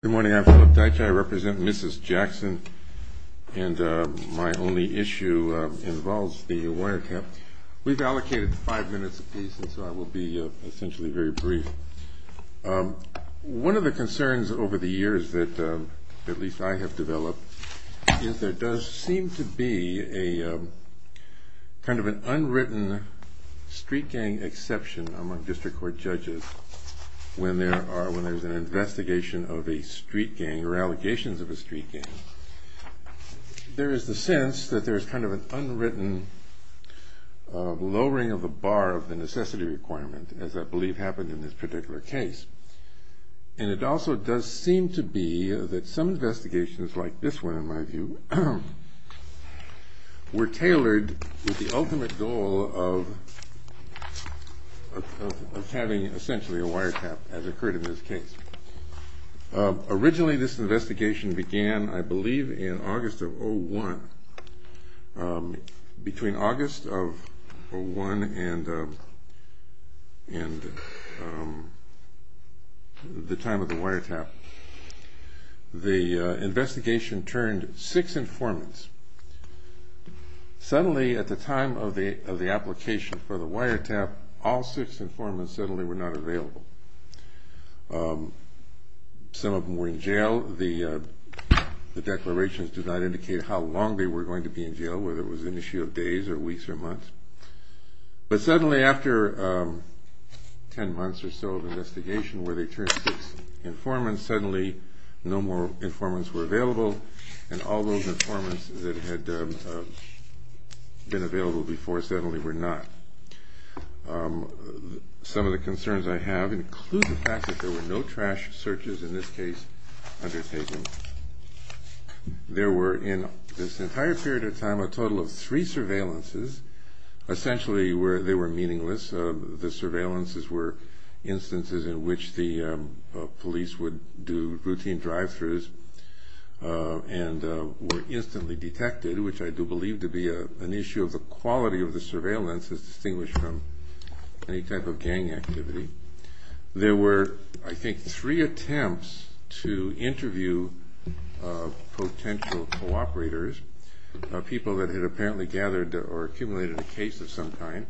Good morning, I'm Philip Dykstra. I represent Mrs. Jackson. And my only issue involves the wire camp. We've allocated five minutes a piece, and so I will be essentially very brief. One of the concerns over the years that at least I have developed is there does seem to be a kind of an unwritten street gang exception among district court judges when there's an investigation of a street gang or allegations of a street gang. There is the sense that there's kind of an unwritten lowering of the bar of the necessity requirement as I believe happened in this particular case. And it also does seem to be that some investigations like this one in my view were tailored with the ultimate goal of having essentially a wire tap as occurred in this case. Originally this investigation began I believe in August of 01. Between August of 01 and the time of the wire tap, the investigation turned six informants. Suddenly at the time of the application for the wire tap, all six informants suddenly were not available. Some of them were in jail. The declarations did not indicate how long they were going to be in jail, whether it was an issue of days or weeks or months. But suddenly after ten months or so of investigation where they turned six informants, suddenly no more informants were available and all those informants that had been available before suddenly were not. Some of the concerns I have include the fact that there were no trash searches in this case undertaken. There were in this entire period of time a total of three surveillances. Essentially they were meaningless. The surveillances were instances in which the police would do routine drive-throughs and were instantly detected, which I do believe to be an issue of the quality of the surveillance. There were, I think, three attempts to interview potential cooperators, people that had apparently gathered or accumulated a case of some kind,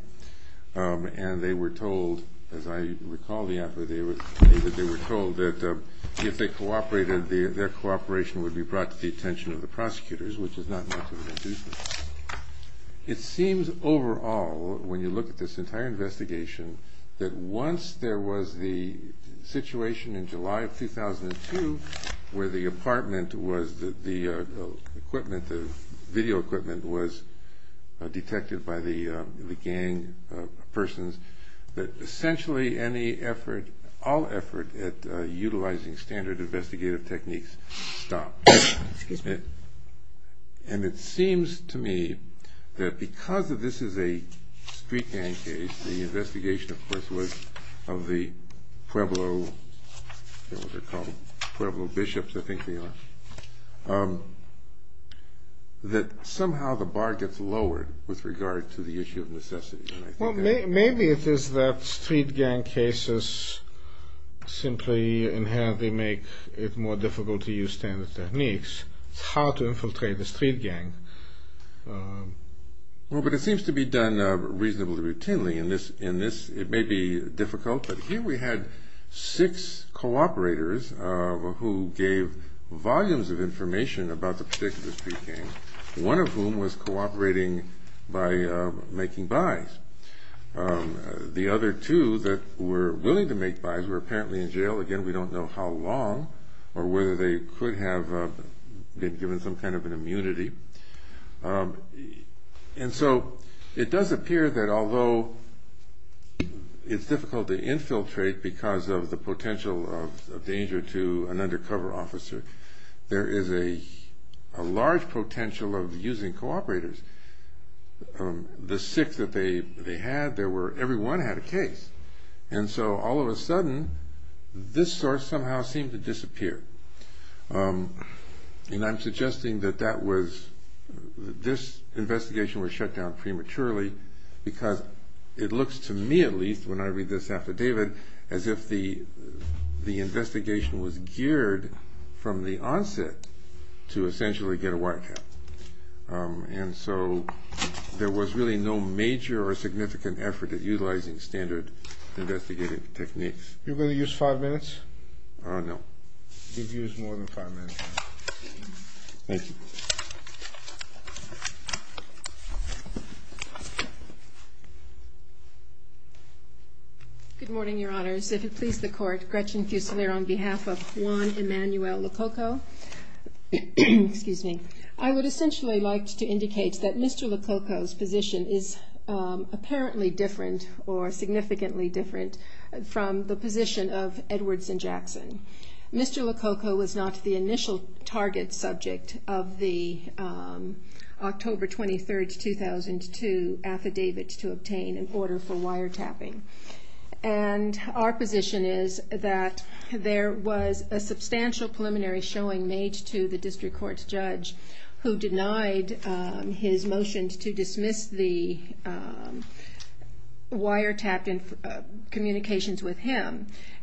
and they were told, as I recall the effort, they were told that if they cooperated, their cooperation would be brought to the attention of the prosecutors, which is not meant to induce this. It seems overall, when you look at this entire investigation, that once there was the situation in July of 2002 where the apartment was, the equipment, the video equipment was detected by the gang persons, that essentially any effort, all effort, at utilizing standard investigative techniques stopped. And it seems to me that because this is a street gang case, the investigation of course was of the Pueblo, I forget what they're called, Pueblo bishops, I think they are, that somehow the bar gets lowered with regard to the issue of necessity. Well, maybe it is that street gang cases simply inherently make it more difficult to use standard techniques. It's hard to infiltrate the street gang. Well, but it seems to be done reasonably routinely. In this, it may be difficult, but here we had six cooperators who gave volumes of information about the particular street gang, one of whom was cooperating by making buys. The other two that were willing to make buys were apparently in jail. Again, we don't know how long or whether they could have been given some kind of an immunity. And so it does appear that although it's difficult to infiltrate because of the potential of danger to an undercover officer, there is a large potential of using cooperators. The six that they had, everyone had a case. And so all of a sudden, this source somehow seemed to disappear. And I'm suggesting that this investigation was shut down prematurely because it looks to me at least when I read this affidavit as if the investigation was geared from the onset to essentially get a white cap. And so there was really no major or significant effort at utilizing standard investigative techniques. You're going to use five minutes? No. You've used more than five minutes. Thank you. Good morning, Your Honors. If it please the Court, Gretchen Fuselier on behalf of Juan Emanuel Lococo. Excuse me. I would essentially like to indicate that Mr. Lococo's position is apparently different or significantly different from the position of Edwards and Jackson.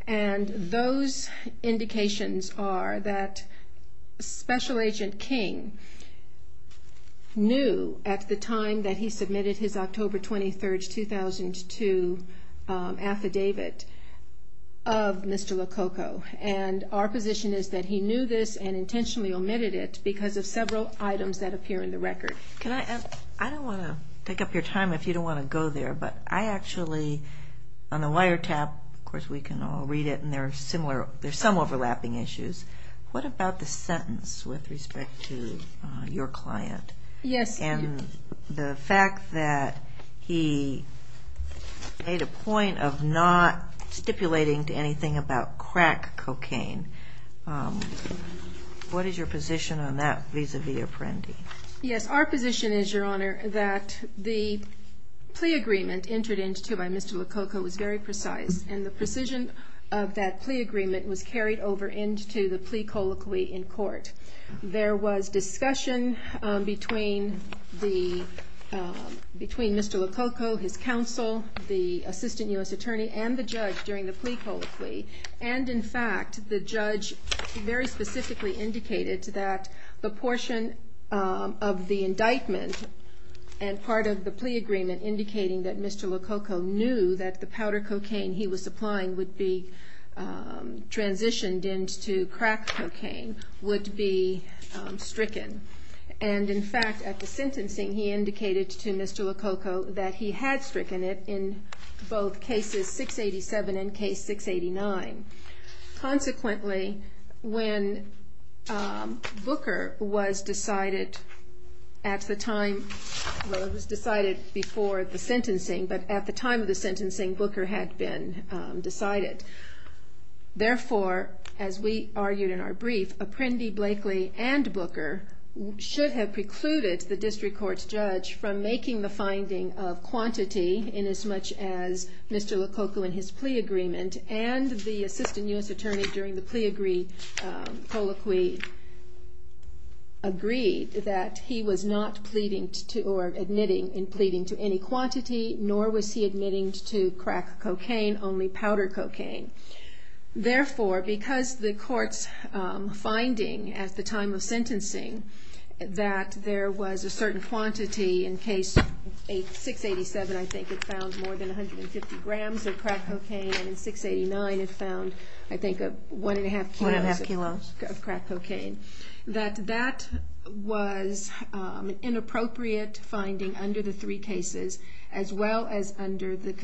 And those indications are that Special Agent King knew at the time that he submitted his October 23, 2002 affidavit of Mr. Lococo. And our position is that he knew this and intentionally omitted it because of several items that appear in the record. I don't want to take up your time if you don't want to go there, but I actually, on the wiretap, of course, we can all read it, and there's some overlapping issues. What about the sentence with respect to your client? Yes. And the fact that he made a point of not stipulating to anything about crack cocaine. What is your position on that vis-a-vis Apprendi? Yes, our position is, Your Honor, that the plea agreement entered into by Mr. Lococo was very precise, and the precision of that plea agreement was carried over into the plea colloquy in court. There was discussion between Mr. Lococo, his counsel, the assistant U.S. attorney, and the judge during the plea colloquy. And, in fact, the judge very specifically indicated that the portion of the indictment and part of the plea agreement indicating that Mr. Lococo knew that the powder cocaine he was supplying would be transitioned into crack cocaine would be stricken. And, in fact, at the sentencing, he indicated to Mr. Lococo that he had stricken it in both cases 687 and case 689. Consequently, when Booker was decided at the time, well, it was decided before the sentencing, but at the time of the sentencing, Booker had been decided. Therefore, as we argued in our brief, Apprendi, Blakely, and Booker should have precluded the district court's judge from making the finding of quantity inasmuch as Mr. Lococo in his plea agreement and the assistant U.S. attorney during the plea colloquy agreed that he was not pleading or admitting in pleading to any quantity, nor was he admitting to crack cocaine, only powder cocaine. Therefore, because the court's finding at the time of sentencing that there was a certain quantity in case 687, I think it found more than 150 grams of crack cocaine, and in 689 it found, I think, one and a half kilos of crack cocaine, that that was an inappropriate finding under the three cases, as well as under the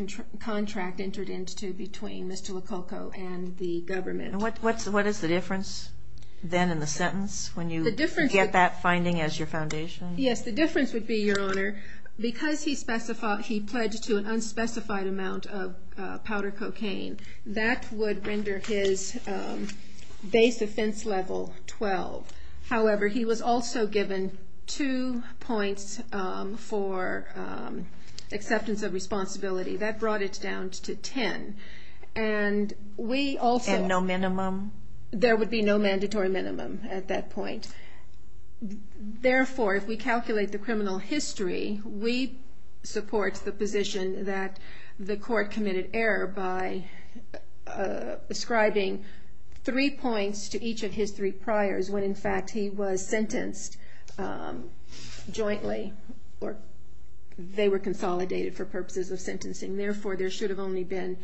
contract entered into between Mr. Lococo and the government. And what is the difference then in the sentence when you get that finding as your foundation? Yes, the difference would be, Your Honor, because he pledged to an unspecified amount of powder cocaine, that would render his base offense level 12. However, he was also given two points for acceptance of responsibility. That brought it down to 10. And no minimum? There would be no mandatory minimum at that point. Therefore, if we calculate the criminal history, we support the position that the court committed error by ascribing three points to each of his three priors when, in fact, he was sentenced jointly, or they were consolidated for purposes of sentencing. Therefore, there should have only been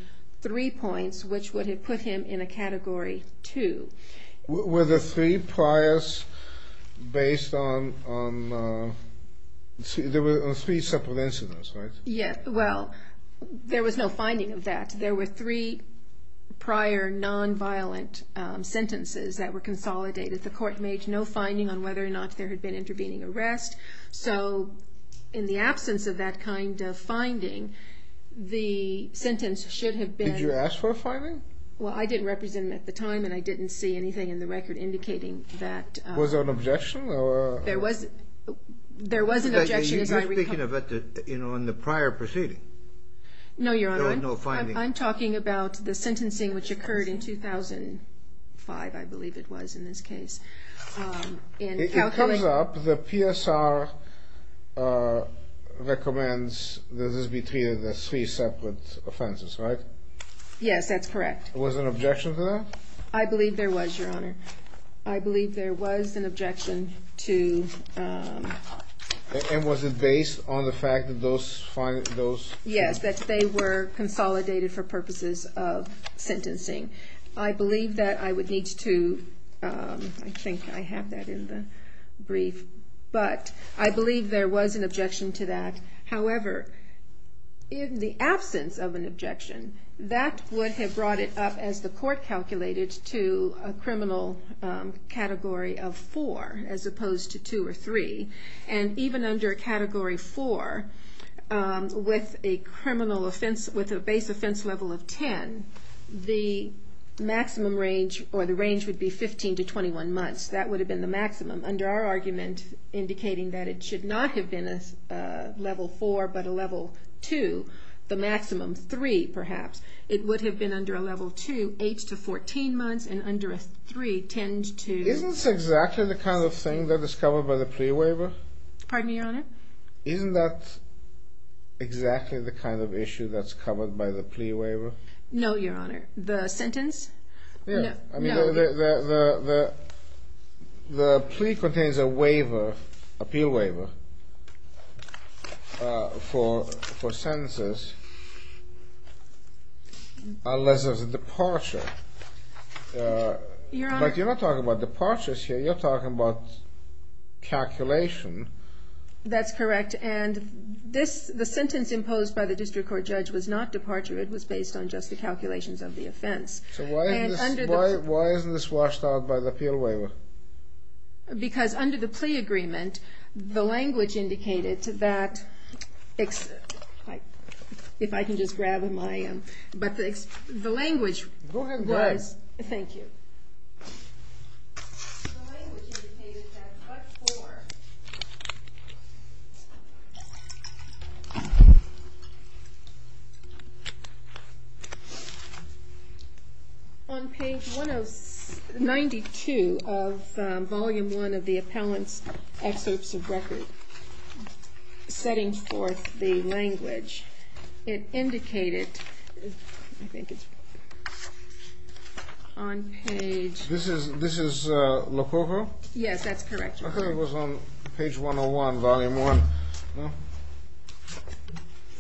three points, which would have put him in a Category 2. Were the three priors based on three separate incidents, right? Yes. Well, there was no finding of that. There were three prior nonviolent sentences that were consolidated. The court made no finding on whether or not there had been intervening arrest. So in the absence of that kind of finding, the sentence should have been... Did you ask for a finding? Well, I didn't represent him at the time, and I didn't see anything in the record indicating that... Was there an objection? There was an objection... You're speaking on the prior proceeding. No, Your Honor. There was no finding. I'm talking about the sentencing which occurred in 2005, I believe it was, in this case. It comes up, the PSR recommends that this be treated as three separate offenses, right? Yes, that's correct. Was there an objection to that? I believe there was, Your Honor. I believe there was an objection to... And was it based on the fact that those... Yes, that they were consolidated for purposes of sentencing. I believe that I would need to... I think I have that in the brief. But I believe there was an objection to that. However, in the absence of an objection, that would have brought it up, as the court calculated, to a criminal category of four, as opposed to two or three. And even under category four, with a base offense level of 10, the maximum range, or the range would be 15 to 21 months. That would have been the maximum. Under our argument, indicating that it should not have been a level four, but a level two, the maximum three, perhaps. It would have been under a level two, eight to 14 months, and under a three tend to... Isn't this exactly the kind of thing that is covered by the plea waiver? Pardon me, Your Honor? Isn't that exactly the kind of issue that's covered by the plea waiver? No, Your Honor. The sentence? The plea contains a waiver, appeal waiver, for sentences unless there's a departure. But you're not talking about departures here. You're talking about calculation. That's correct. And the sentence imposed by the district court judge was not departure. It was based on just the calculations of the offense. So why isn't this washed out by the appeal waiver? Because under the plea agreement, the language indicated that... If I can just grab my... The language was... Go ahead. Thank you. The language indicated that but for... On page 92 of volume one of the appellant's excerpts of record, setting forth the language, it indicated... I think it's... This is Lococo? Yes, that's correct, Your Honor. I thought it was on page 101, volume one.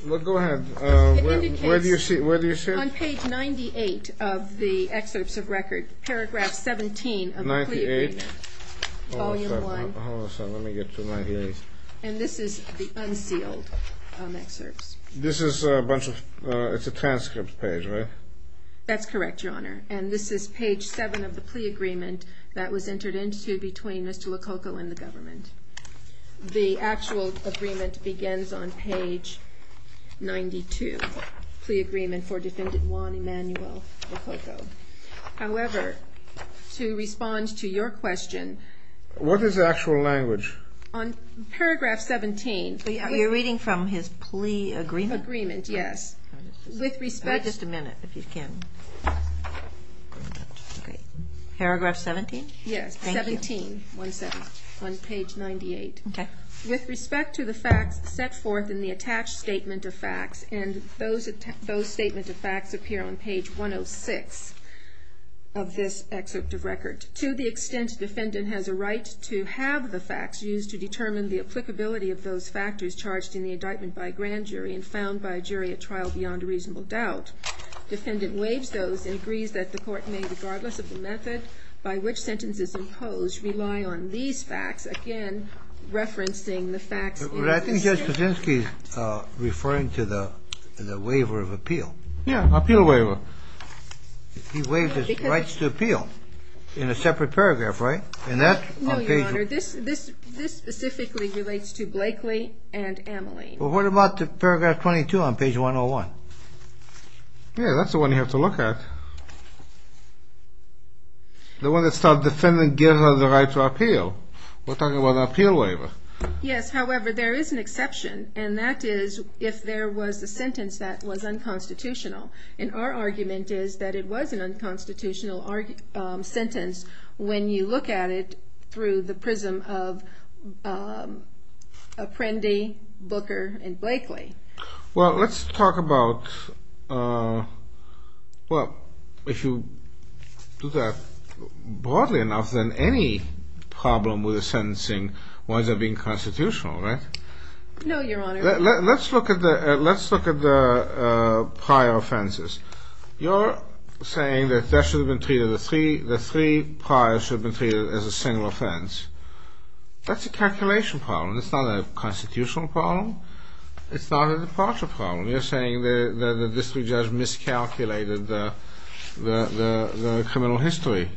Go ahead. It indicates... Where do you see it? On page 98 of the excerpts of record, paragraph 17 of the plea agreement. 98? Volume one. Hold on a second. Let me get to 98. And this is the unsealed excerpts. This is a bunch of... It's a transcript page, right? That's correct, Your Honor. And this is page seven of the plea agreement that was entered into between Mr. Lococo and the government. The actual agreement begins on page 92, plea agreement for defendant Juan Emanuel Lococo. However, to respond to your question... What is the actual language? On paragraph 17... You're reading from his plea agreement? Agreement, yes. With respect... Okay. Paragraph 17? Yes, 17. Thank you. On page 98. Okay. With respect to the facts set forth in the attached statement of facts, and those statement of facts appear on page 106 of this excerpt of record. To the extent a defendant has a right to have the facts used to determine the applicability of those factors charged in the indictment by a grand jury and found by a jury at trial beyond a reasonable doubt, defendant waives those and agrees that the court may, regardless of the method by which sentence is imposed, rely on these facts. Again, referencing the facts... But I think Judge Kuczynski is referring to the waiver of appeal. Yeah, appeal waiver. He waives his rights to appeal in a separate paragraph, right? And that's on page... No, Your Honor. This specifically relates to Blakely and Ameline. Well, what about paragraph 22 on page 101? Yeah, that's the one you have to look at. The one that says, defendant gives her the right to appeal. We're talking about an appeal waiver. Yes, however, there is an exception, and that is if there was a sentence that was unconstitutional. And our argument is that it was an unconstitutional sentence when you look at it through the prism of Apprendi, Booker, and Blakely. Well, let's talk about... Well, if you do that broadly enough, then any problem with the sentencing winds up being constitutional, right? No, Your Honor. Let's look at the prior offenses. You're saying that the three prior should have been treated as a single offense. That's a calculation problem. It's not a constitutional problem. It's not a departure problem. You're saying that the district judge miscalculated the criminal history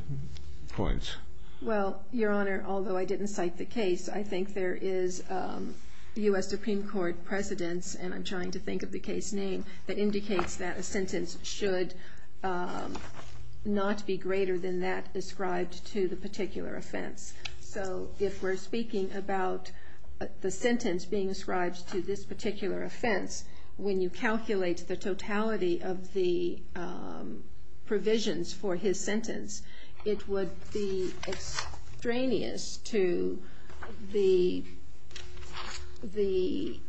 points. Well, Your Honor, although I didn't cite the case, I think there is U.S. Supreme Court precedence, and I'm trying to think of the case name, that indicates that a sentence should not be greater than that ascribed to the particular offense. So if we're speaking about the sentence being ascribed to this particular offense, when you calculate the totality of the provisions for his sentence, it would be extraneous to the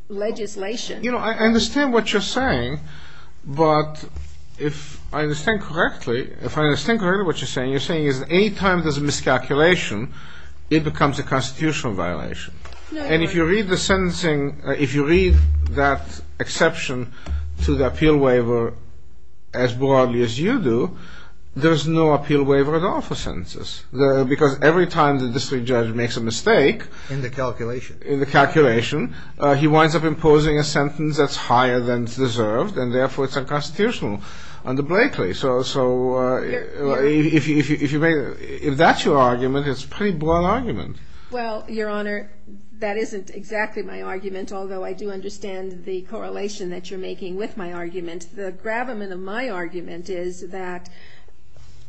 legislation. You know, I understand what you're saying, but if I understand correctly, what you're saying is that any time there's a miscalculation, it becomes a constitutional violation. No, Your Honor. If you read the sentencing, if you read that exception to the appeal waiver as broadly as you do, there's no appeal waiver at all for sentences. Because every time the district judge makes a mistake. In the calculation. In the calculation, he winds up imposing a sentence that's higher than it's deserved, and therefore it's unconstitutional under Blakely. So if that's your argument, it's a pretty broad argument. Well, Your Honor, that isn't exactly my argument, although I do understand the correlation that you're making with my argument. The gravamen of my argument is that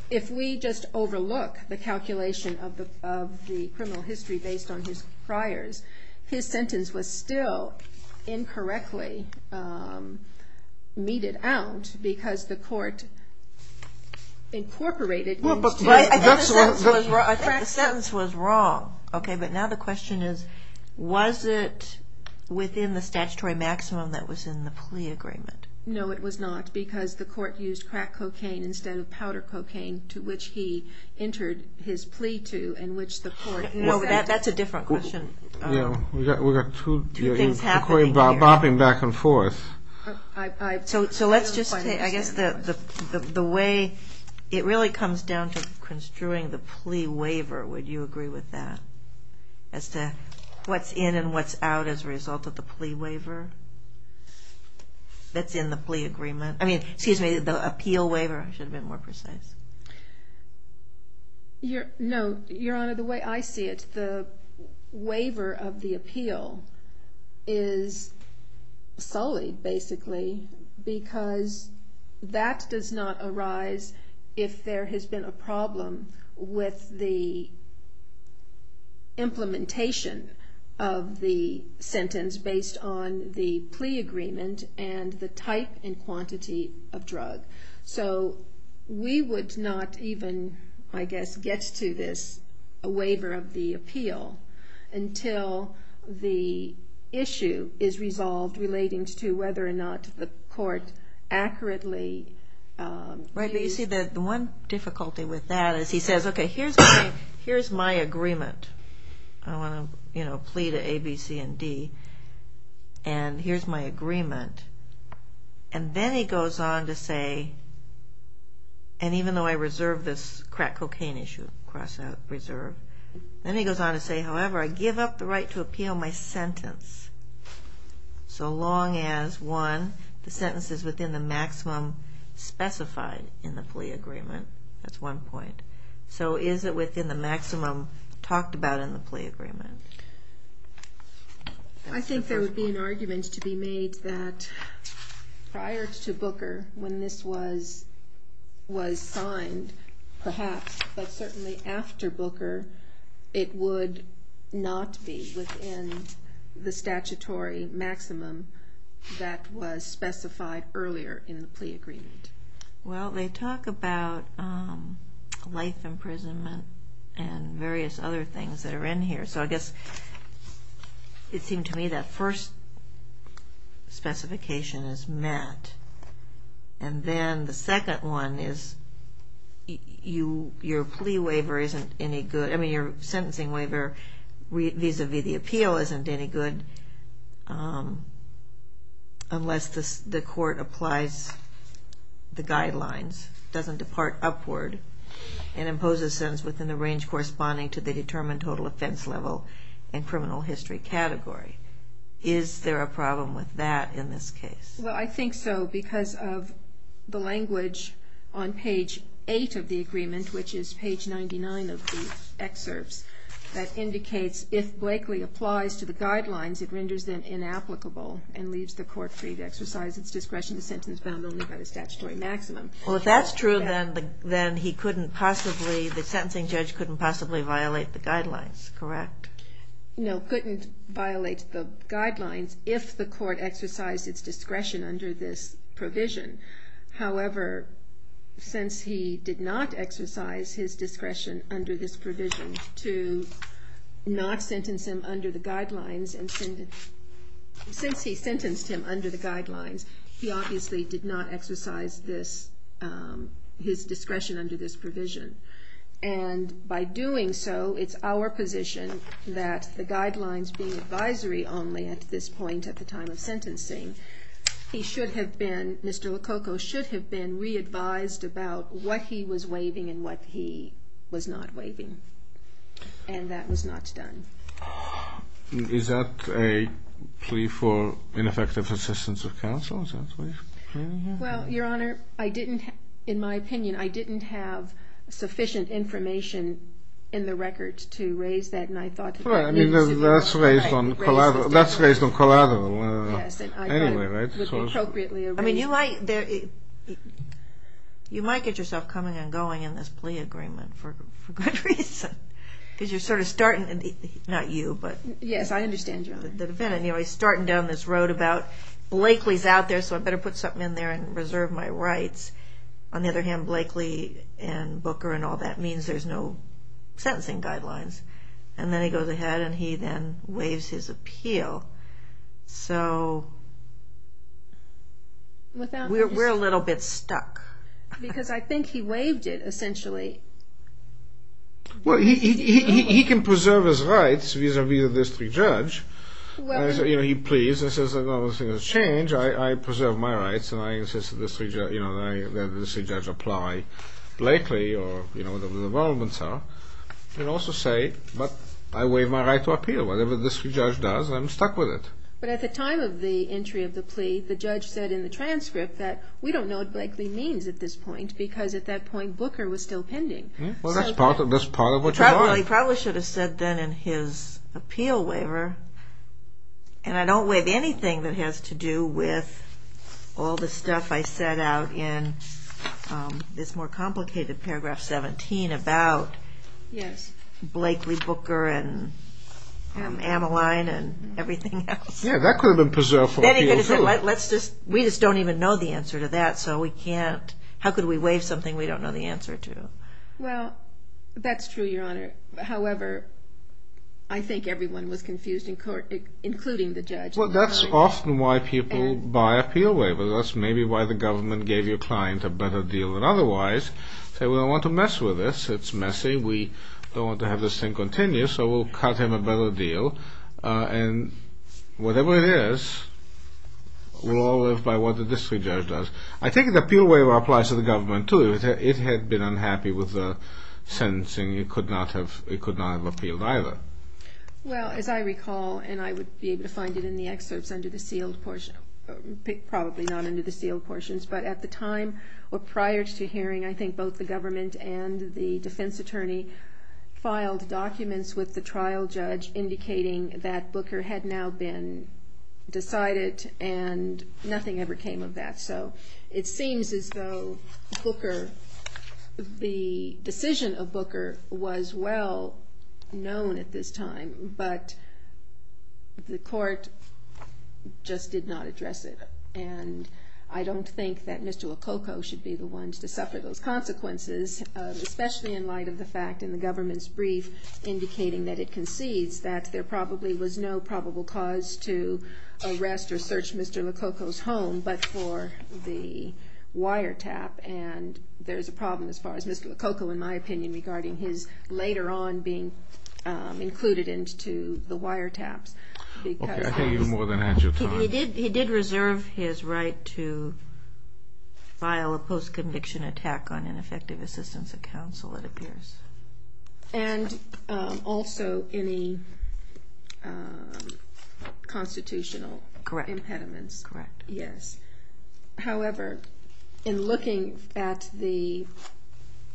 if we just overlook the calculation of the criminal history based on his priors, his sentence was still incorrectly meted out because the court incorporated. I think the sentence was wrong. Okay, but now the question is, was it within the statutory maximum that was in the plea agreement? No, it was not, because the court used crack cocaine instead of powder cocaine, to which he entered his plea to, and which the court. That's a different question. We've got two things happening here. You're bobbing back and forth. So let's just say, I guess the way it really comes down to construing the plea waiver, would you agree with that, as to what's in and what's out as a result of the plea waiver that's in the plea agreement? I mean, excuse me, the appeal waiver, I should have been more precise. No, Your Honor, the way I see it, the waiver of the appeal is sullied, basically, because that does not arise if there has been a problem with the implementation of the sentence based on the plea agreement and the type and quantity of drug. So we would not even, I guess, get to this waiver of the appeal until the issue is resolved relating to whether or not the court accurately. Right, but you see that the one difficulty with that is he says, okay, here's my agreement. I want to, you know, plea to A, B, C, and D, and here's my agreement. And then he goes on to say, and even though I reserve this crack cocaine issue, cross out, preserve, then he goes on to say, however, I give up the right to appeal my sentence, so long as, one, the sentence is within the maximum specified in the plea agreement. That's one point. So is it within the maximum talked about in the plea agreement? I think there would be an argument to be made that prior to Booker, when this was signed, perhaps, but certainly after Booker, it would not be within the statutory maximum that was specified earlier in the plea agreement. Well, they talk about life imprisonment and various other things that are in here, so I guess it seemed to me that first specification is met, and then the second one is your plea waiver isn't any good. I mean, your sentencing waiver vis-à-vis the appeal isn't any good unless the court applies the guidelines, doesn't depart upward, and imposes sentence within the range corresponding to the determined total offense level and criminal history category. Is there a problem with that in this case? Well, I think so, because of the language on page 8 of the agreement, which is page 99 of the excerpts, that indicates if Blakely applies to the guidelines, it renders them inapplicable and leaves the court free to exercise its discretion to sentence bound only by the statutory maximum. Well, if that's true, then he couldn't possibly, the sentencing judge couldn't possibly violate the guidelines, correct? No, couldn't violate the guidelines if the court exercised its discretion under this provision. However, since he did not exercise his discretion under this provision to not sentence him under the guidelines, since he sentenced him under the guidelines, he obviously did not exercise his discretion under this provision. And by doing so, it's our position that the guidelines being advisory only at this point at the time of sentencing, he should have been, Mr. Lococo should have been re-advised about what he was waiving and what he was not waiving. And that was not done. Is that a plea for ineffective assistance of counsel? Well, Your Honor, I didn't, in my opinion, I didn't have sufficient information in the record to raise that, and I thought that needs to be raised. That's raised on collateral anyway, right? I mean, you might get yourself coming and going in this plea agreement for good reason, because you're sort of starting, not you, but... Yes, I understand, Your Honor. The defendant, you know, he's starting down this road about, Blakely's out there, so I better put something in there and reserve my rights. On the other hand, Blakely and Booker and all that means there's no sentencing guidelines. And then he goes ahead and he then waives his appeal. So, we're a little bit stuck. Because I think he waived it, essentially. Well, he can preserve his rights vis-à-vis the district judge. You know, he pleads and says, you know, this thing has changed. I preserve my rights, and I insist that the district judge apply Blakely, or, you know, whatever the involvements are. He can also say, but I waive my right to appeal. Whatever the district judge does, I'm stuck with it. But at the time of the entry of the plea, the judge said in the transcript that, you know, we don't know what Blakely means at this point, because at that point, Booker was still pending. Well, that's part of what you want. He probably should have said then in his appeal waiver, and I don't waive anything that has to do with all the stuff I set out in this more complicated paragraph 17 about Blakely, Booker, and Amaline, and everything else. Yeah, that could have been preserved for appeal, too. We just don't even know the answer to that, so we can't. How could we waive something we don't know the answer to? Well, that's true, Your Honor. However, I think everyone was confused, including the judge. Well, that's often why people buy appeal waivers. That's maybe why the government gave your client a better deal than otherwise. Say, we don't want to mess with this. It's messy. We don't want to have this thing continue, so we'll cut him a better deal. And whatever it is, we'll all live by what the district judge does. I think the appeal waiver applies to the government, too. If it had been unhappy with the sentencing, it could not have appealed either. Well, as I recall, and I would be able to find it in the excerpts under the sealed portion, probably not under the sealed portions, but at the time or prior to hearing, I think both the government and the defense attorney filed documents with the trial judge indicating that Booker had now been decided, and nothing ever came of that. So it seems as though Booker, the decision of Booker, was well known at this time, but the court just did not address it. And I don't think that Mr. Lococo should be the ones to suffer those consequences, especially in light of the fact in the government's brief indicating that it concedes that there probably was no probable cause to arrest or search Mr. Lococo's home but for the wiretap. And there's a problem as far as Mr. Lococo, in my opinion, regarding his later on being included into the wiretaps. Okay. I hear you more than I had your time. He did reserve his right to file a post-conviction attack on ineffective assistance of counsel, it appears. And also any constitutional impediments. Correct. Yes. However, in looking at the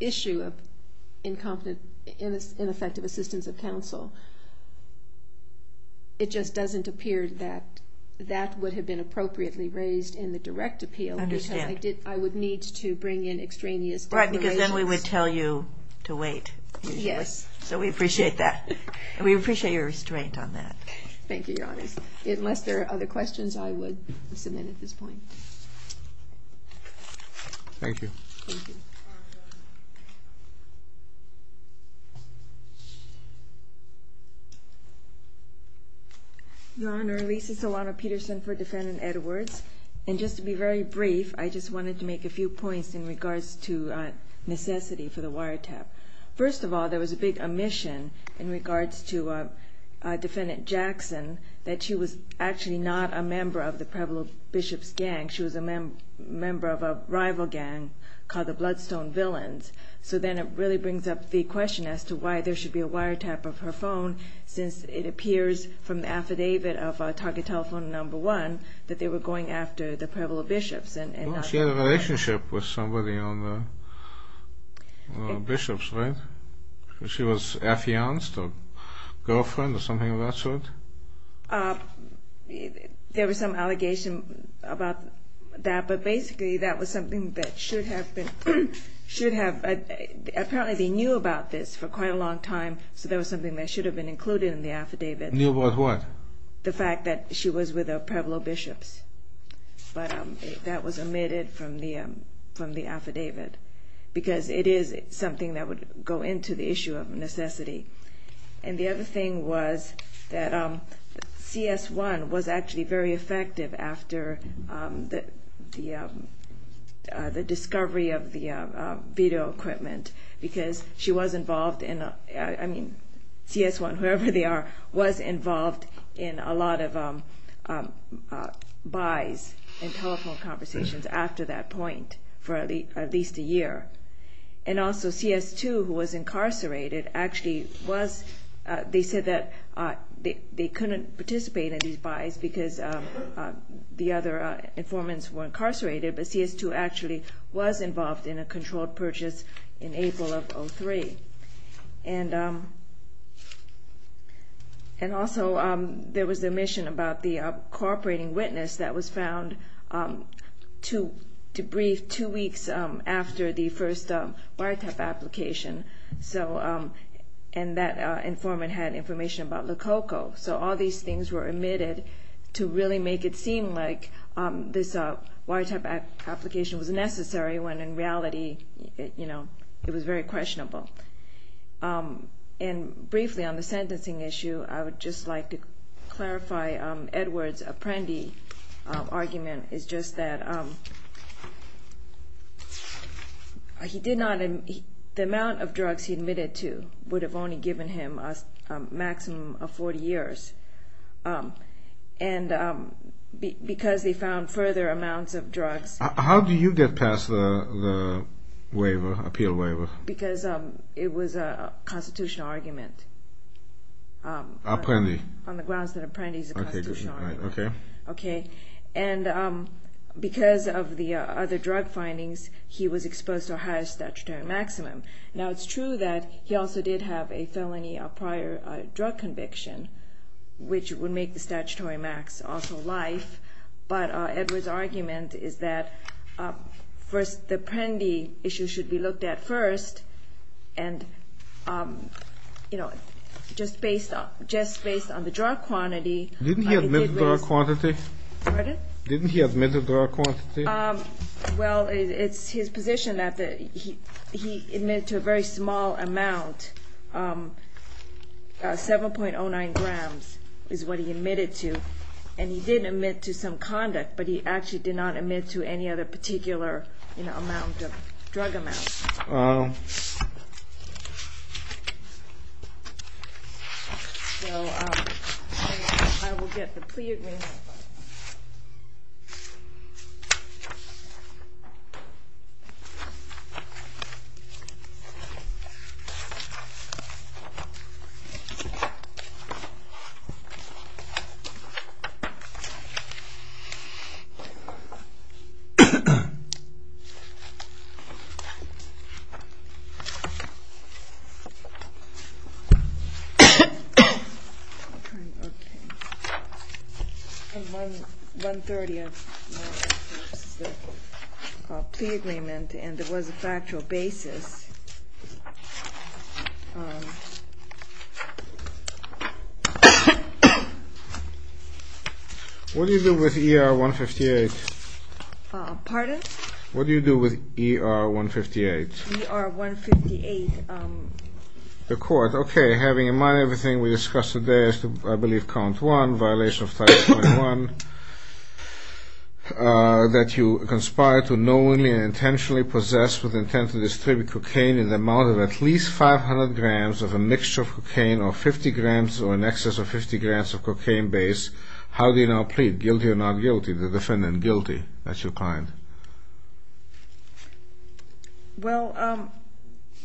issue of ineffective assistance of counsel, it just doesn't appear that that would have been appropriately raised in the direct appeal. I understand. Because I would need to bring in extraneous declarations. Right, because then we would tell you to wait. Yes. So we appreciate that. We appreciate your restraint on that. Thank you, Your Honor. Unless there are other questions, I would submit at this point. Thank you. Thank you. Your Honor, Lisa Solano-Peterson for Defendant Edwards. And just to be very brief, I just wanted to make a few points in regards to necessity for the wiretap. First of all, there was a big omission in regards to Defendant Jackson, that she was actually not a member of the Preble Bishop's gang. She was a member of a rival gang called the Bloodstone Villains. So then it really brings up the question as to why there should be a wiretap of her phone since it appears from the affidavit of Target Telephone Number 1 that they were going after the Preble Bishops. She had a relationship with somebody on the Bishops, right? She was their fiancé or girlfriend or something of that sort? There was some allegation about that. But basically that was something that should have been, should have. Apparently they knew about this for quite a long time, so there was something that should have been included in the affidavit. Knew about what? The fact that she was with the Preble Bishops. But that was omitted from the affidavit because it is something that would go into the issue of necessity. And the other thing was that CS1 was actually very effective after the discovery of the video equipment because she was involved in, I mean CS1, whoever they are, was involved in a lot of buys and telephone conversations after that point for at least a year. And also CS2, who was incarcerated, actually was, they said that they couldn't participate in these buys because the other informants were incarcerated, but CS2 actually was involved in a controlled purchase in April of 2003. And also there was the omission about the cooperating witness that was found to debrief two weeks after the first biotech application. And that informant had information about Lococo. So all these things were omitted to really make it seem like this biotech application was necessary when in reality it was very questionable. And briefly on the sentencing issue, I would just like to clarify Edward's Apprendi argument. It's just that the amount of drugs he admitted to would have only given him a maximum of 40 years. And because they found further amounts of drugs... How do you get past the appeal waiver? Because it was a constitutional argument. Apprendi. On the grounds that Apprendi is a constitutional argument. Okay. And because of the other drug findings, he was exposed to a higher statutory maximum. Now it's true that he also did have a felony prior drug conviction, which would make the statutory max also life. But Edward's argument is that the Apprendi issue should be looked at first. And just based on the drug quantity... Didn't he admit the drug quantity? Pardon? Didn't he admit the drug quantity? Well, it's his position that he admitted to a very small amount. 7.09 grams is what he admitted to. And he did admit to some conduct, but he actually did not admit to any other particular drug amount. So I will get the plea agreement. Okay. I have 130. This is the plea agreement, and it was a factual basis. What do you do with ER-158? Pardon? What do you do with ER-158? ER-158. The court. All right. Okay. Having in mind everything we discussed today as to, I believe, count one, violation of Title 21, that you conspired to knowingly and intentionally possess with intent to distribute cocaine in the amount of at least 500 grams of a mixture of cocaine or 50 grams or in excess of 50 grams of cocaine base, how do you now plead? Guilty or not guilty? The defendant guilty. That's your client. Well,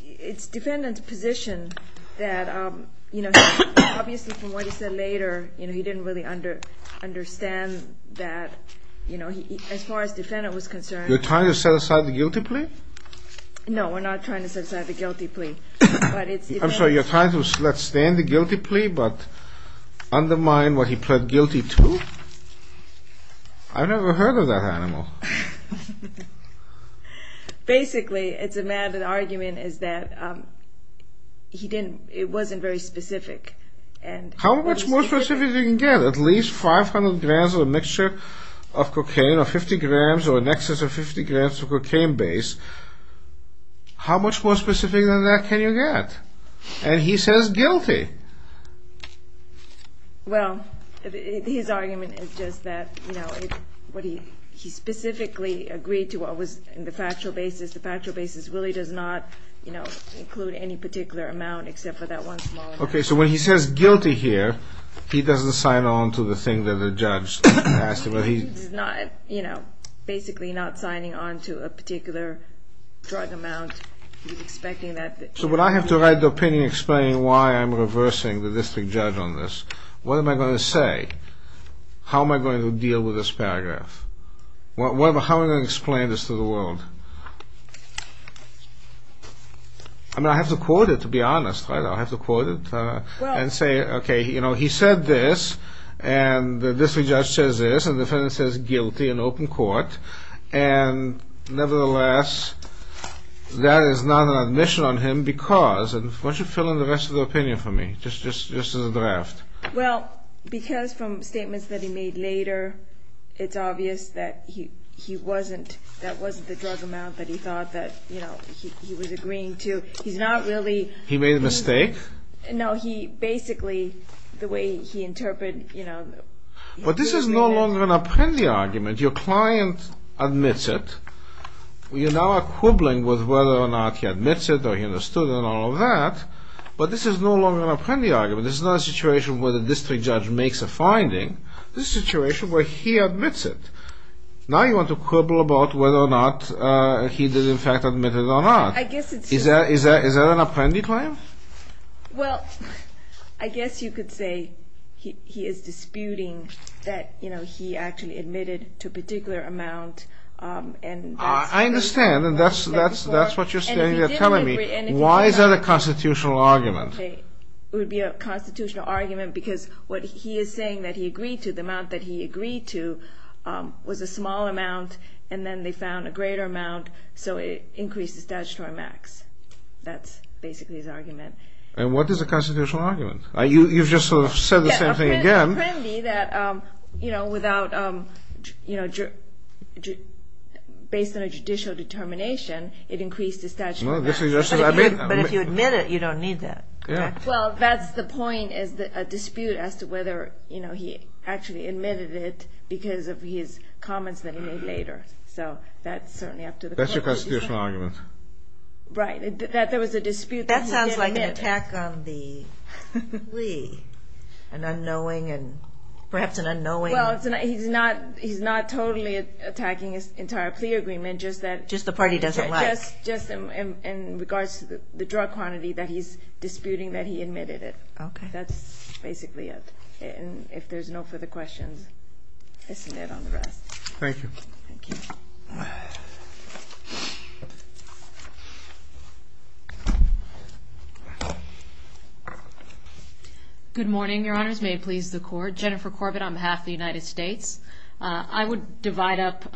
it's defendant's position that, you know, obviously from what he said later, you know, he didn't really understand that, you know, as far as the defendant was concerned. You're trying to set aside the guilty plea? No, we're not trying to set aside the guilty plea. I'm sorry. You're trying to let stand the guilty plea but undermine what he pled guilty to? I never heard of that animal. Basically, it's a mad argument is that he didn't, it wasn't very specific. How much more specific can you get? At least 500 grams of a mixture of cocaine or 50 grams or in excess of 50 grams of cocaine base, how much more specific than that can you get? And he says guilty. Well, his argument is just that, you know, he specifically agreed to what was in the factual basis. The factual basis really does not, you know, include any particular amount except for that one small amount. Okay, so when he says guilty here, he doesn't sign on to the thing that the judge asked him. He's not, you know, basically not signing on to a particular drug amount. He's expecting that. So would I have to write the opinion explaining why I'm reversing the district judge on this? What am I going to say? How am I going to deal with this paragraph? How am I going to explain this to the world? I mean, I have to quote it to be honest, right? I'll have to quote it and say, okay, you know, he said this, and the district judge says this, and the defendant says guilty in open court, and nevertheless, that is not an admission on him because, why don't you fill in the rest of the opinion for me, just as a draft? Well, because from statements that he made later, it's obvious that he wasn't, that wasn't the drug amount that he thought that, you know, he was agreeing to. He's not really... He made a mistake? No, he basically, the way he interpreted, you know... But this is no longer an Apprendi argument. Your client admits it. You're now quibbling with whether or not he admits it or he understood and all of that, but this is no longer an Apprendi argument. This is not a situation where the district judge makes a finding. This is a situation where he admits it. Now you want to quibble about whether or not he did in fact admit it or not. I guess it's... Is that an Apprendi claim? Well, I guess you could say he is disputing that, you know, he actually admitted to a particular amount, and... I understand, and that's what you're saying, you're telling me. Why is that a constitutional argument? It would be a constitutional argument because what he is saying that he agreed to, the amount that he agreed to was a small amount, and then they found a greater amount, so it increased the statutory max. That's basically his argument. And what is a constitutional argument? You've just sort of said the same thing again. Yeah, Apprendi that, you know, without, you know, based on a judicial determination, it increased the statutory max. But if you admit it, you don't need that. Well, that's the point is a dispute as to whether, you know, he actually admitted it because of his comments that he made later. So that's certainly up to the court. That's your constitutional argument. Right, that there was a dispute that he didn't admit. That sounds like an attack on the plea, an unknowing and perhaps an unknowing... Well, he's not totally attacking his entire plea agreement, just that... Just the part he doesn't like. Just in regards to the drug quantity that he's disputing that he admitted it. Okay. That's basically it. And if there's no further questions, I'll submit on the rest. Thank you. Thank you. Good morning, Your Honors. May it please the Court. Jennifer Corbett on behalf of the United States. I would divide up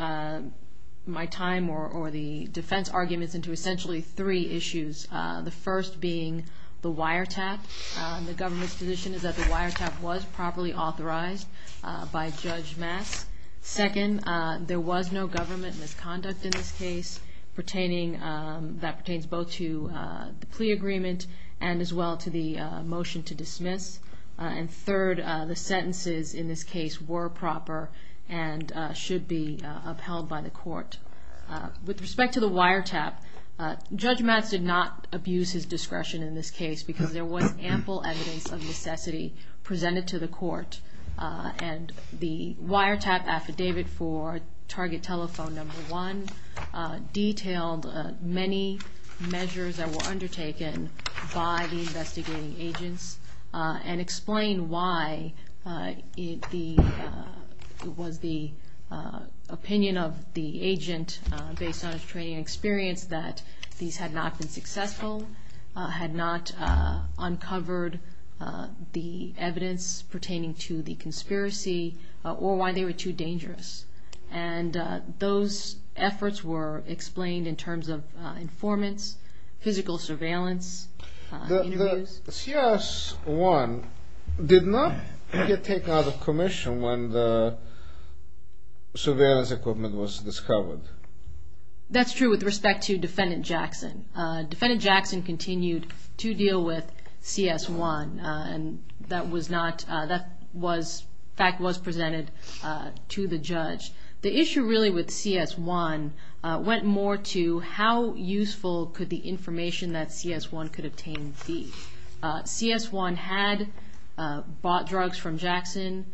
my time or the defense arguments into essentially three issues. The first being the wiretap. The government's position is that the wiretap was properly authorized by Judge Mass. Second, there was no government misconduct in this case pertaining, that pertains both to the plea agreement and as well to the motion to dismiss. And third, the sentences in this case were proper and should be upheld by the Court. With respect to the wiretap, Judge Mass did not abuse his discretion in this case because there was ample evidence of necessity presented to the Court. And the wiretap affidavit for target telephone number one detailed many measures that were undertaken by the investigating agents and explained why it was the opinion of the agent based on his training and experience that these had not been successful, had not uncovered the evidence pertaining to the conspiracy, or why they were too dangerous. And those efforts were explained in terms of informants, physical surveillance. The CS-1 did not get taken out of commission when the surveillance equipment was discovered. That's true with respect to Defendant Jackson. Defendant Jackson continued to deal with CS-1. And that was not, that fact was presented to the judge. The issue really with CS-1 went more to how useful could the information that CS-1 could obtain be. CS-1 had bought drugs from Jackson,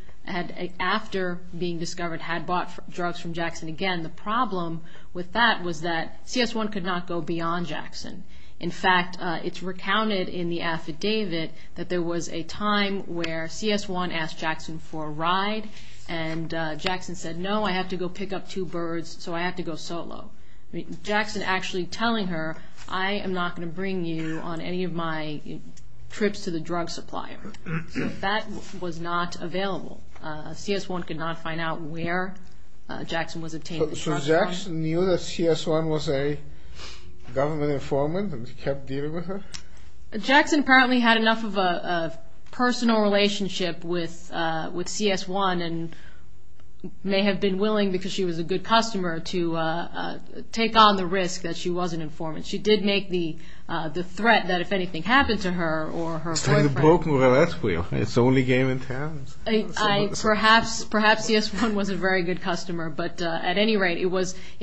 after being discovered had bought drugs from Jackson again. The problem with that was that CS-1 could not go beyond Jackson. In fact, it's recounted in the affidavit that there was a time where CS-1 asked Jackson for a ride and Jackson said, no, I have to go pick up two birds, so I have to go solo. Jackson actually telling her, I am not going to bring you on any of my trips to the drug supplier. So that was not available. CS-1 could not find out where Jackson was obtaining the drugs from. So Jackson knew that CS-1 was a government informant and kept dealing with her? Jackson apparently had enough of a personal relationship with CS-1 and may have been willing, because she was a good customer, to take on the risk that she was an informant. She did make the threat that if anything happened to her or her boyfriend. It's only game in town. Perhaps CS-1 was a very good customer, but at any rate, it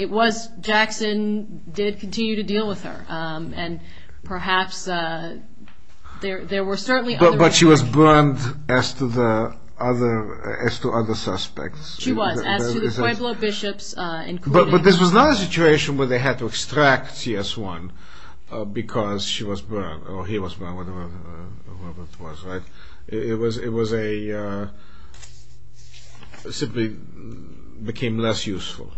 was, Jackson did continue to deal with her. Perhaps there were certainly other... But she was burned as to other suspects. She was, as to the Pueblo bishops, including... But this was not a situation where they had to extract CS-1 because she was burned or he was burned, whatever it was, right? It was a... It simply became less useful.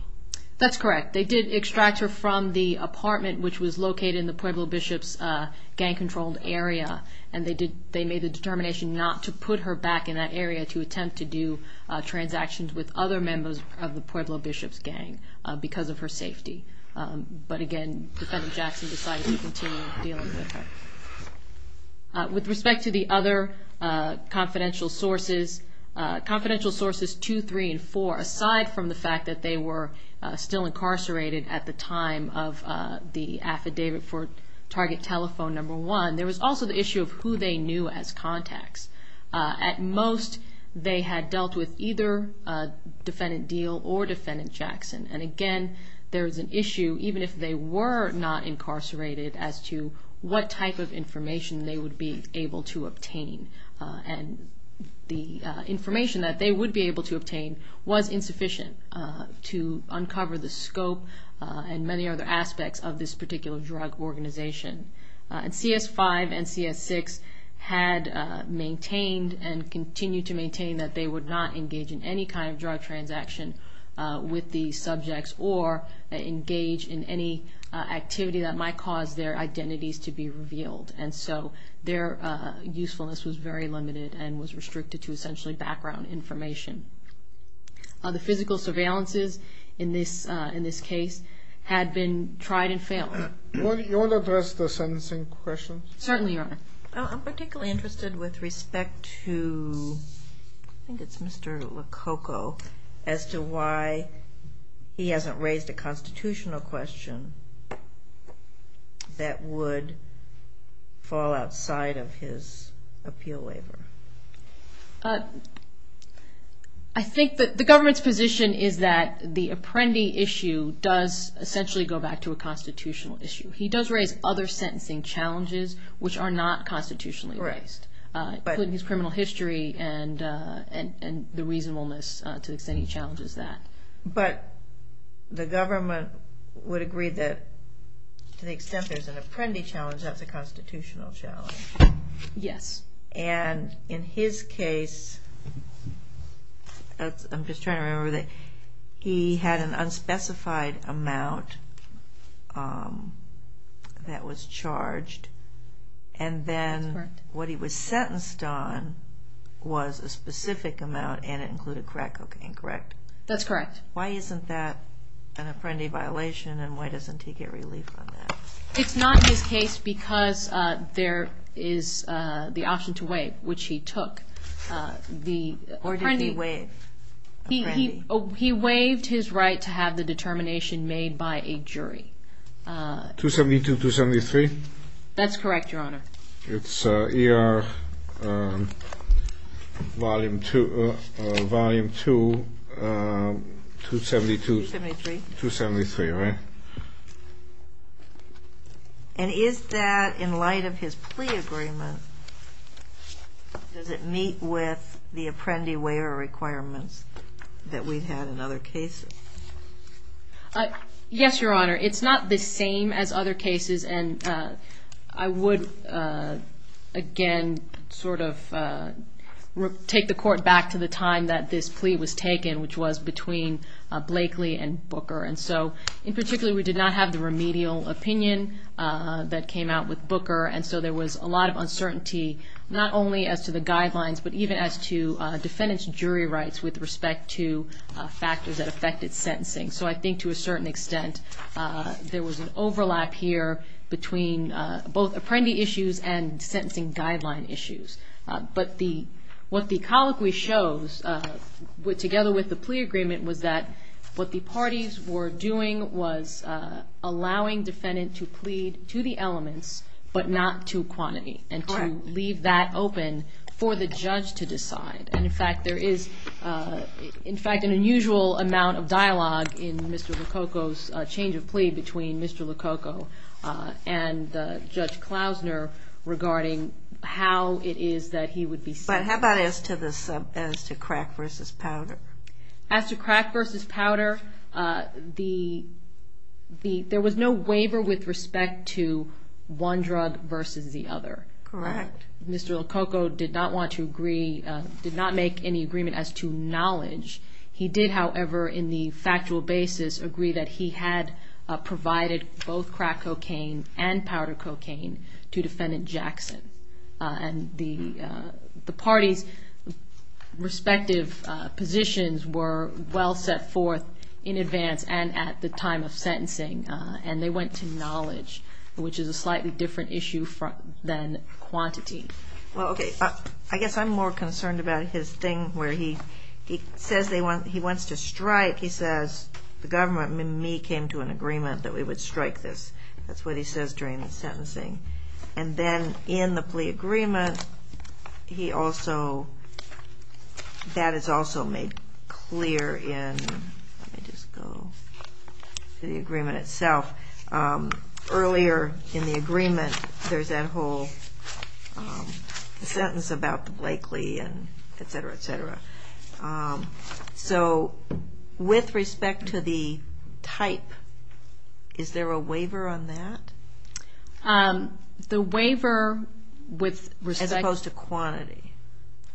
That's correct. They did extract her from the apartment, which was located in the Pueblo bishops gang-controlled area, and they made the determination not to put her back in that area to attempt to do transactions with other members of the Pueblo bishops gang because of her safety. But again, Defendant Jackson decided to continue dealing with her. With respect to the other confidential sources, confidential sources 2, 3, and 4, aside from the fact that they were still incarcerated at the time of the affidavit for target telephone number 1, there was also the issue of who they knew as contacts. At most, they had dealt with either Defendant Deal or Defendant Jackson. And again, there was an issue, even if they were not incarcerated, as to what type of information they would be able to obtain. And the information that they would be able to obtain was insufficient to uncover the scope and many other aspects of this particular drug organization. And CS5 and CS6 had maintained and continue to maintain that they would not engage in any kind of drug transaction with these subjects or engage in any activity that might cause their identities to be revealed. And so their usefulness was very limited and was restricted to essentially background information. The physical surveillances in this case had been tried and failed. You want to address the sentencing questions? Certainly, Your Honor. I'm particularly interested with respect to, I think it's Mr. Lococo, as to why he hasn't raised a constitutional question that would fall outside of his appeal waiver. I think that the government's position is that the Apprendi issue does essentially go back to a constitutional issue. He does raise other sentencing challenges, which are not constitutionally based, including his criminal history and the reasonableness to the extent he challenges that. But the government would agree that to the extent there's an Apprendi challenge, that's a constitutional challenge. Yes. And in his case, I'm just trying to remember, he had an unspecified amount that was charged. And then what he was sentenced on was a specific amount, and it included crack cocaine, correct? That's correct. Why isn't that an Apprendi violation, and why doesn't he get relief on that? It's not his case because there is the option to waive, which he took. Or did he waive Apprendi? He waived his right to have the determination made by a jury. 272-273? That's correct, Your Honor. It's ER Volume 2, 272-273, right? And is that in light of his plea agreement, does it meet with the Apprendi waiver requirements that we've had in other cases? Yes, Your Honor. It's not the same as other cases, and I would, again, sort of take the court back to the time that this plea was taken, which was between Blakely and Booker. And so, in particular, we did not have the remedial opinion that came out with Booker, and so there was a lot of uncertainty, not only as to the guidelines, but even as to defendant's jury rights with respect to factors that affected sentencing. So I think, to a certain extent, there was an overlap here between both Apprendi issues and sentencing guideline issues. But what the colloquy shows, together with the plea agreement, was that what the parties were doing was allowing defendant to plead to the elements but not to quantity and to leave that open for the judge to decide. And, in fact, there is, in fact, an unusual amount of dialogue in Mr. LoCocco's change of plea between Mr. LoCocco and Judge Klausner regarding how it is that he would be sentencing. But how about as to crack versus powder? As to crack versus powder, there was no waiver with respect to one drug versus the other. Correct. Mr. LoCocco did not want to agree, did not make any agreement as to knowledge. He did, however, in the factual basis, agree that he had provided both crack cocaine and powder cocaine to defendant Jackson. And the parties' respective positions were well set forth in advance and at the time of sentencing, and they went to knowledge, which is a slightly different issue than quantity. Well, okay. I guess I'm more concerned about his thing where he says he wants to strike. He says, the government and me came to an agreement that we would strike this. That's what he says during the sentencing. And then in the plea agreement, he also, that is also made clear in, let me just go to the agreement itself. Earlier in the agreement, there's that whole sentence about Blakely and et cetera, et cetera. So with respect to the type, is there a waiver on that? The waiver with respect- As opposed to quantity.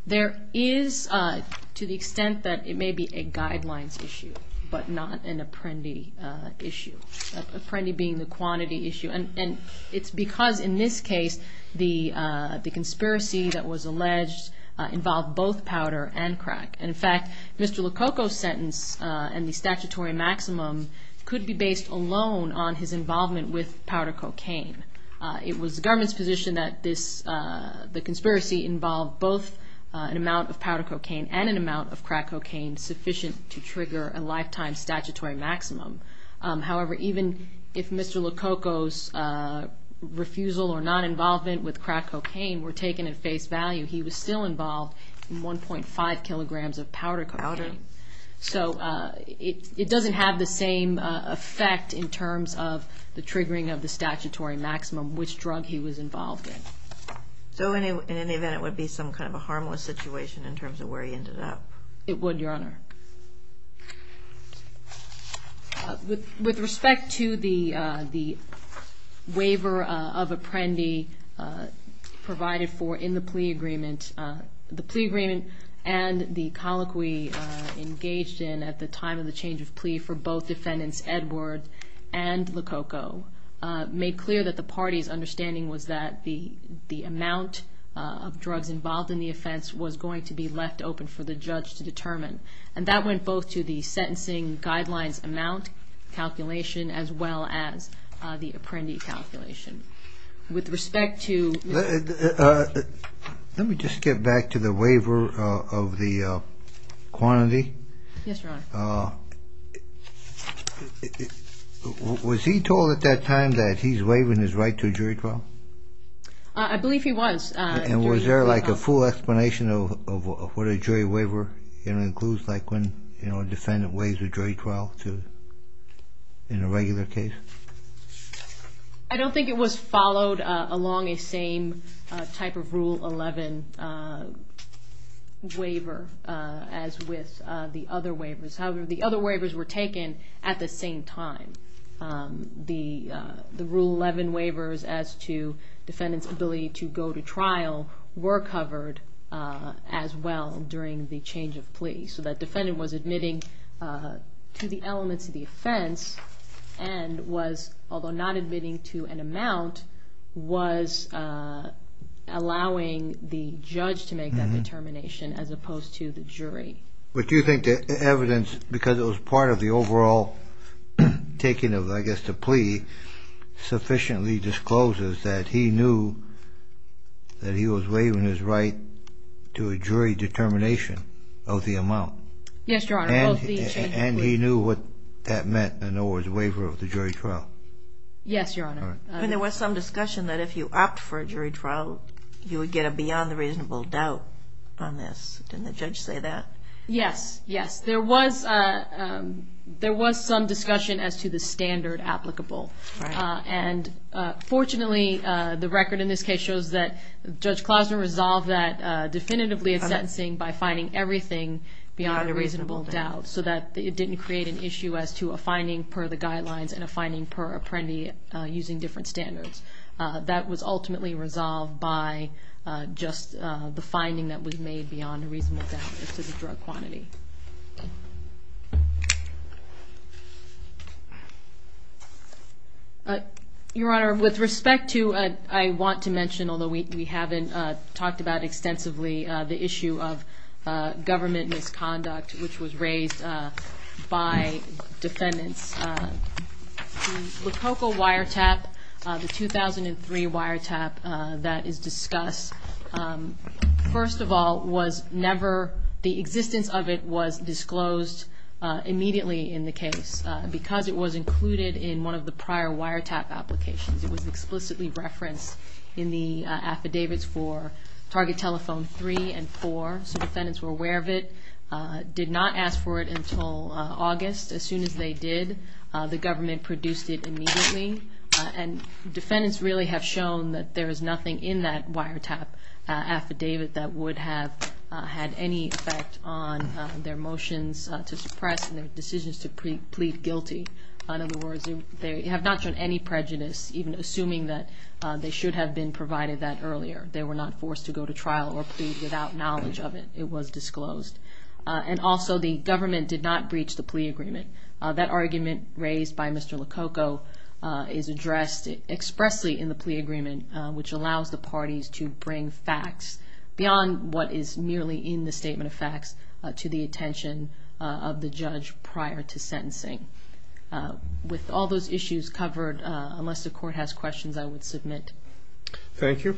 There is to the extent that it may be a guidelines issue, but not an Apprendi issue. Apprendi being the quantity issue. And it's because in this case, the conspiracy that was alleged involved both powder and crack. And in fact, Mr. Lococo's sentence and the statutory maximum could be based alone on his involvement with powder cocaine. It was the government's position that this, the conspiracy involved both an amount of powder cocaine and an amount of crack cocaine sufficient to trigger a lifetime statutory maximum. However, even if Mr. Lococo's refusal or non-involvement with crack cocaine were taken at face value, he was still involved in 1.5 kilograms of powder cocaine. So it doesn't have the same effect in terms of the triggering of the statutory maximum, which drug he was involved in. So in any event, it would be some kind of a harmless situation in terms of where he ended up? It would, Your Honor. With respect to the waiver of Apprendi provided for in the plea agreement, the plea agreement and the colloquy engaged in at the time of the change of plea for both defendants Edward and Lococo made clear that the party's understanding was that the amount of drugs involved in the offense was going to be left open for the judge to determine. And that went both to the sentencing guidelines amount calculation as well as the Apprendi calculation. With respect to... Let me just get back to the waiver of the quantity. Yes, Your Honor. Was he told at that time that he's waiving his right to a jury trial? I believe he was. And was there like a full explanation of what a jury waiver includes? Like when a defendant waives a jury trial in a regular case? I don't think it was followed along a same type of Rule 11 waiver as with the other waivers. However, the other waivers were taken at the same time. The Rule 11 waivers as to defendant's ability to go to trial were covered as well during the change of plea. So that defendant was admitting to the elements of the offense and was, although not admitting to an amount, was allowing the judge to make that determination as opposed to the jury. But do you think the evidence, because it was part of the overall taking of, I guess, the plea, sufficiently discloses that he knew that he was waiving his right to a jury determination of the amount? Yes, Your Honor. And he knew what that meant, in other words, waiver of the jury trial? Yes, Your Honor. There was some discussion that if you opt for a jury trial, you would get a beyond reasonable doubt on this. Didn't the judge say that? Yes, yes. There was some discussion as to the standard applicable. And fortunately, the record in this case shows that Judge Klausner resolved that definitively in sentencing by finding everything beyond a reasonable doubt so that it didn't create an issue as to a finding per the guidelines and a finding per apprendi using different standards. That was ultimately resolved by just the finding that was made beyond a reasonable doubt as to the drug quantity. Your Honor, with respect to, I want to mention, although we haven't talked about extensively, the issue of government misconduct, which was raised by defendants. The Lococo wiretap, the 2003 wiretap that is discussed, first of all, was never, the existence of it was disclosed immediately in the case because it was included in one of the prior wiretap applications. It was explicitly referenced in the affidavits for Target Telephone 3 and 4, so defendants were aware of it, did not ask for it until August. As soon as they did, the government produced it immediately. And defendants really have shown that there is nothing in that wiretap affidavit that would have had any effect on their motions to suppress and their decisions to plead guilty. In other words, they have not shown any prejudice, even assuming that they should have been provided that earlier. They were not forced to go to trial or plead without knowledge of it. It was disclosed. And also, the government did not breach the plea agreement. That argument raised by Mr. Lococo is addressed expressly in the plea agreement, which allows the parties to bring facts beyond what is merely in the statement of facts to the attention of the judge prior to sentencing. With all those issues covered, unless the court has questions, I would submit. Thank you. Thank you.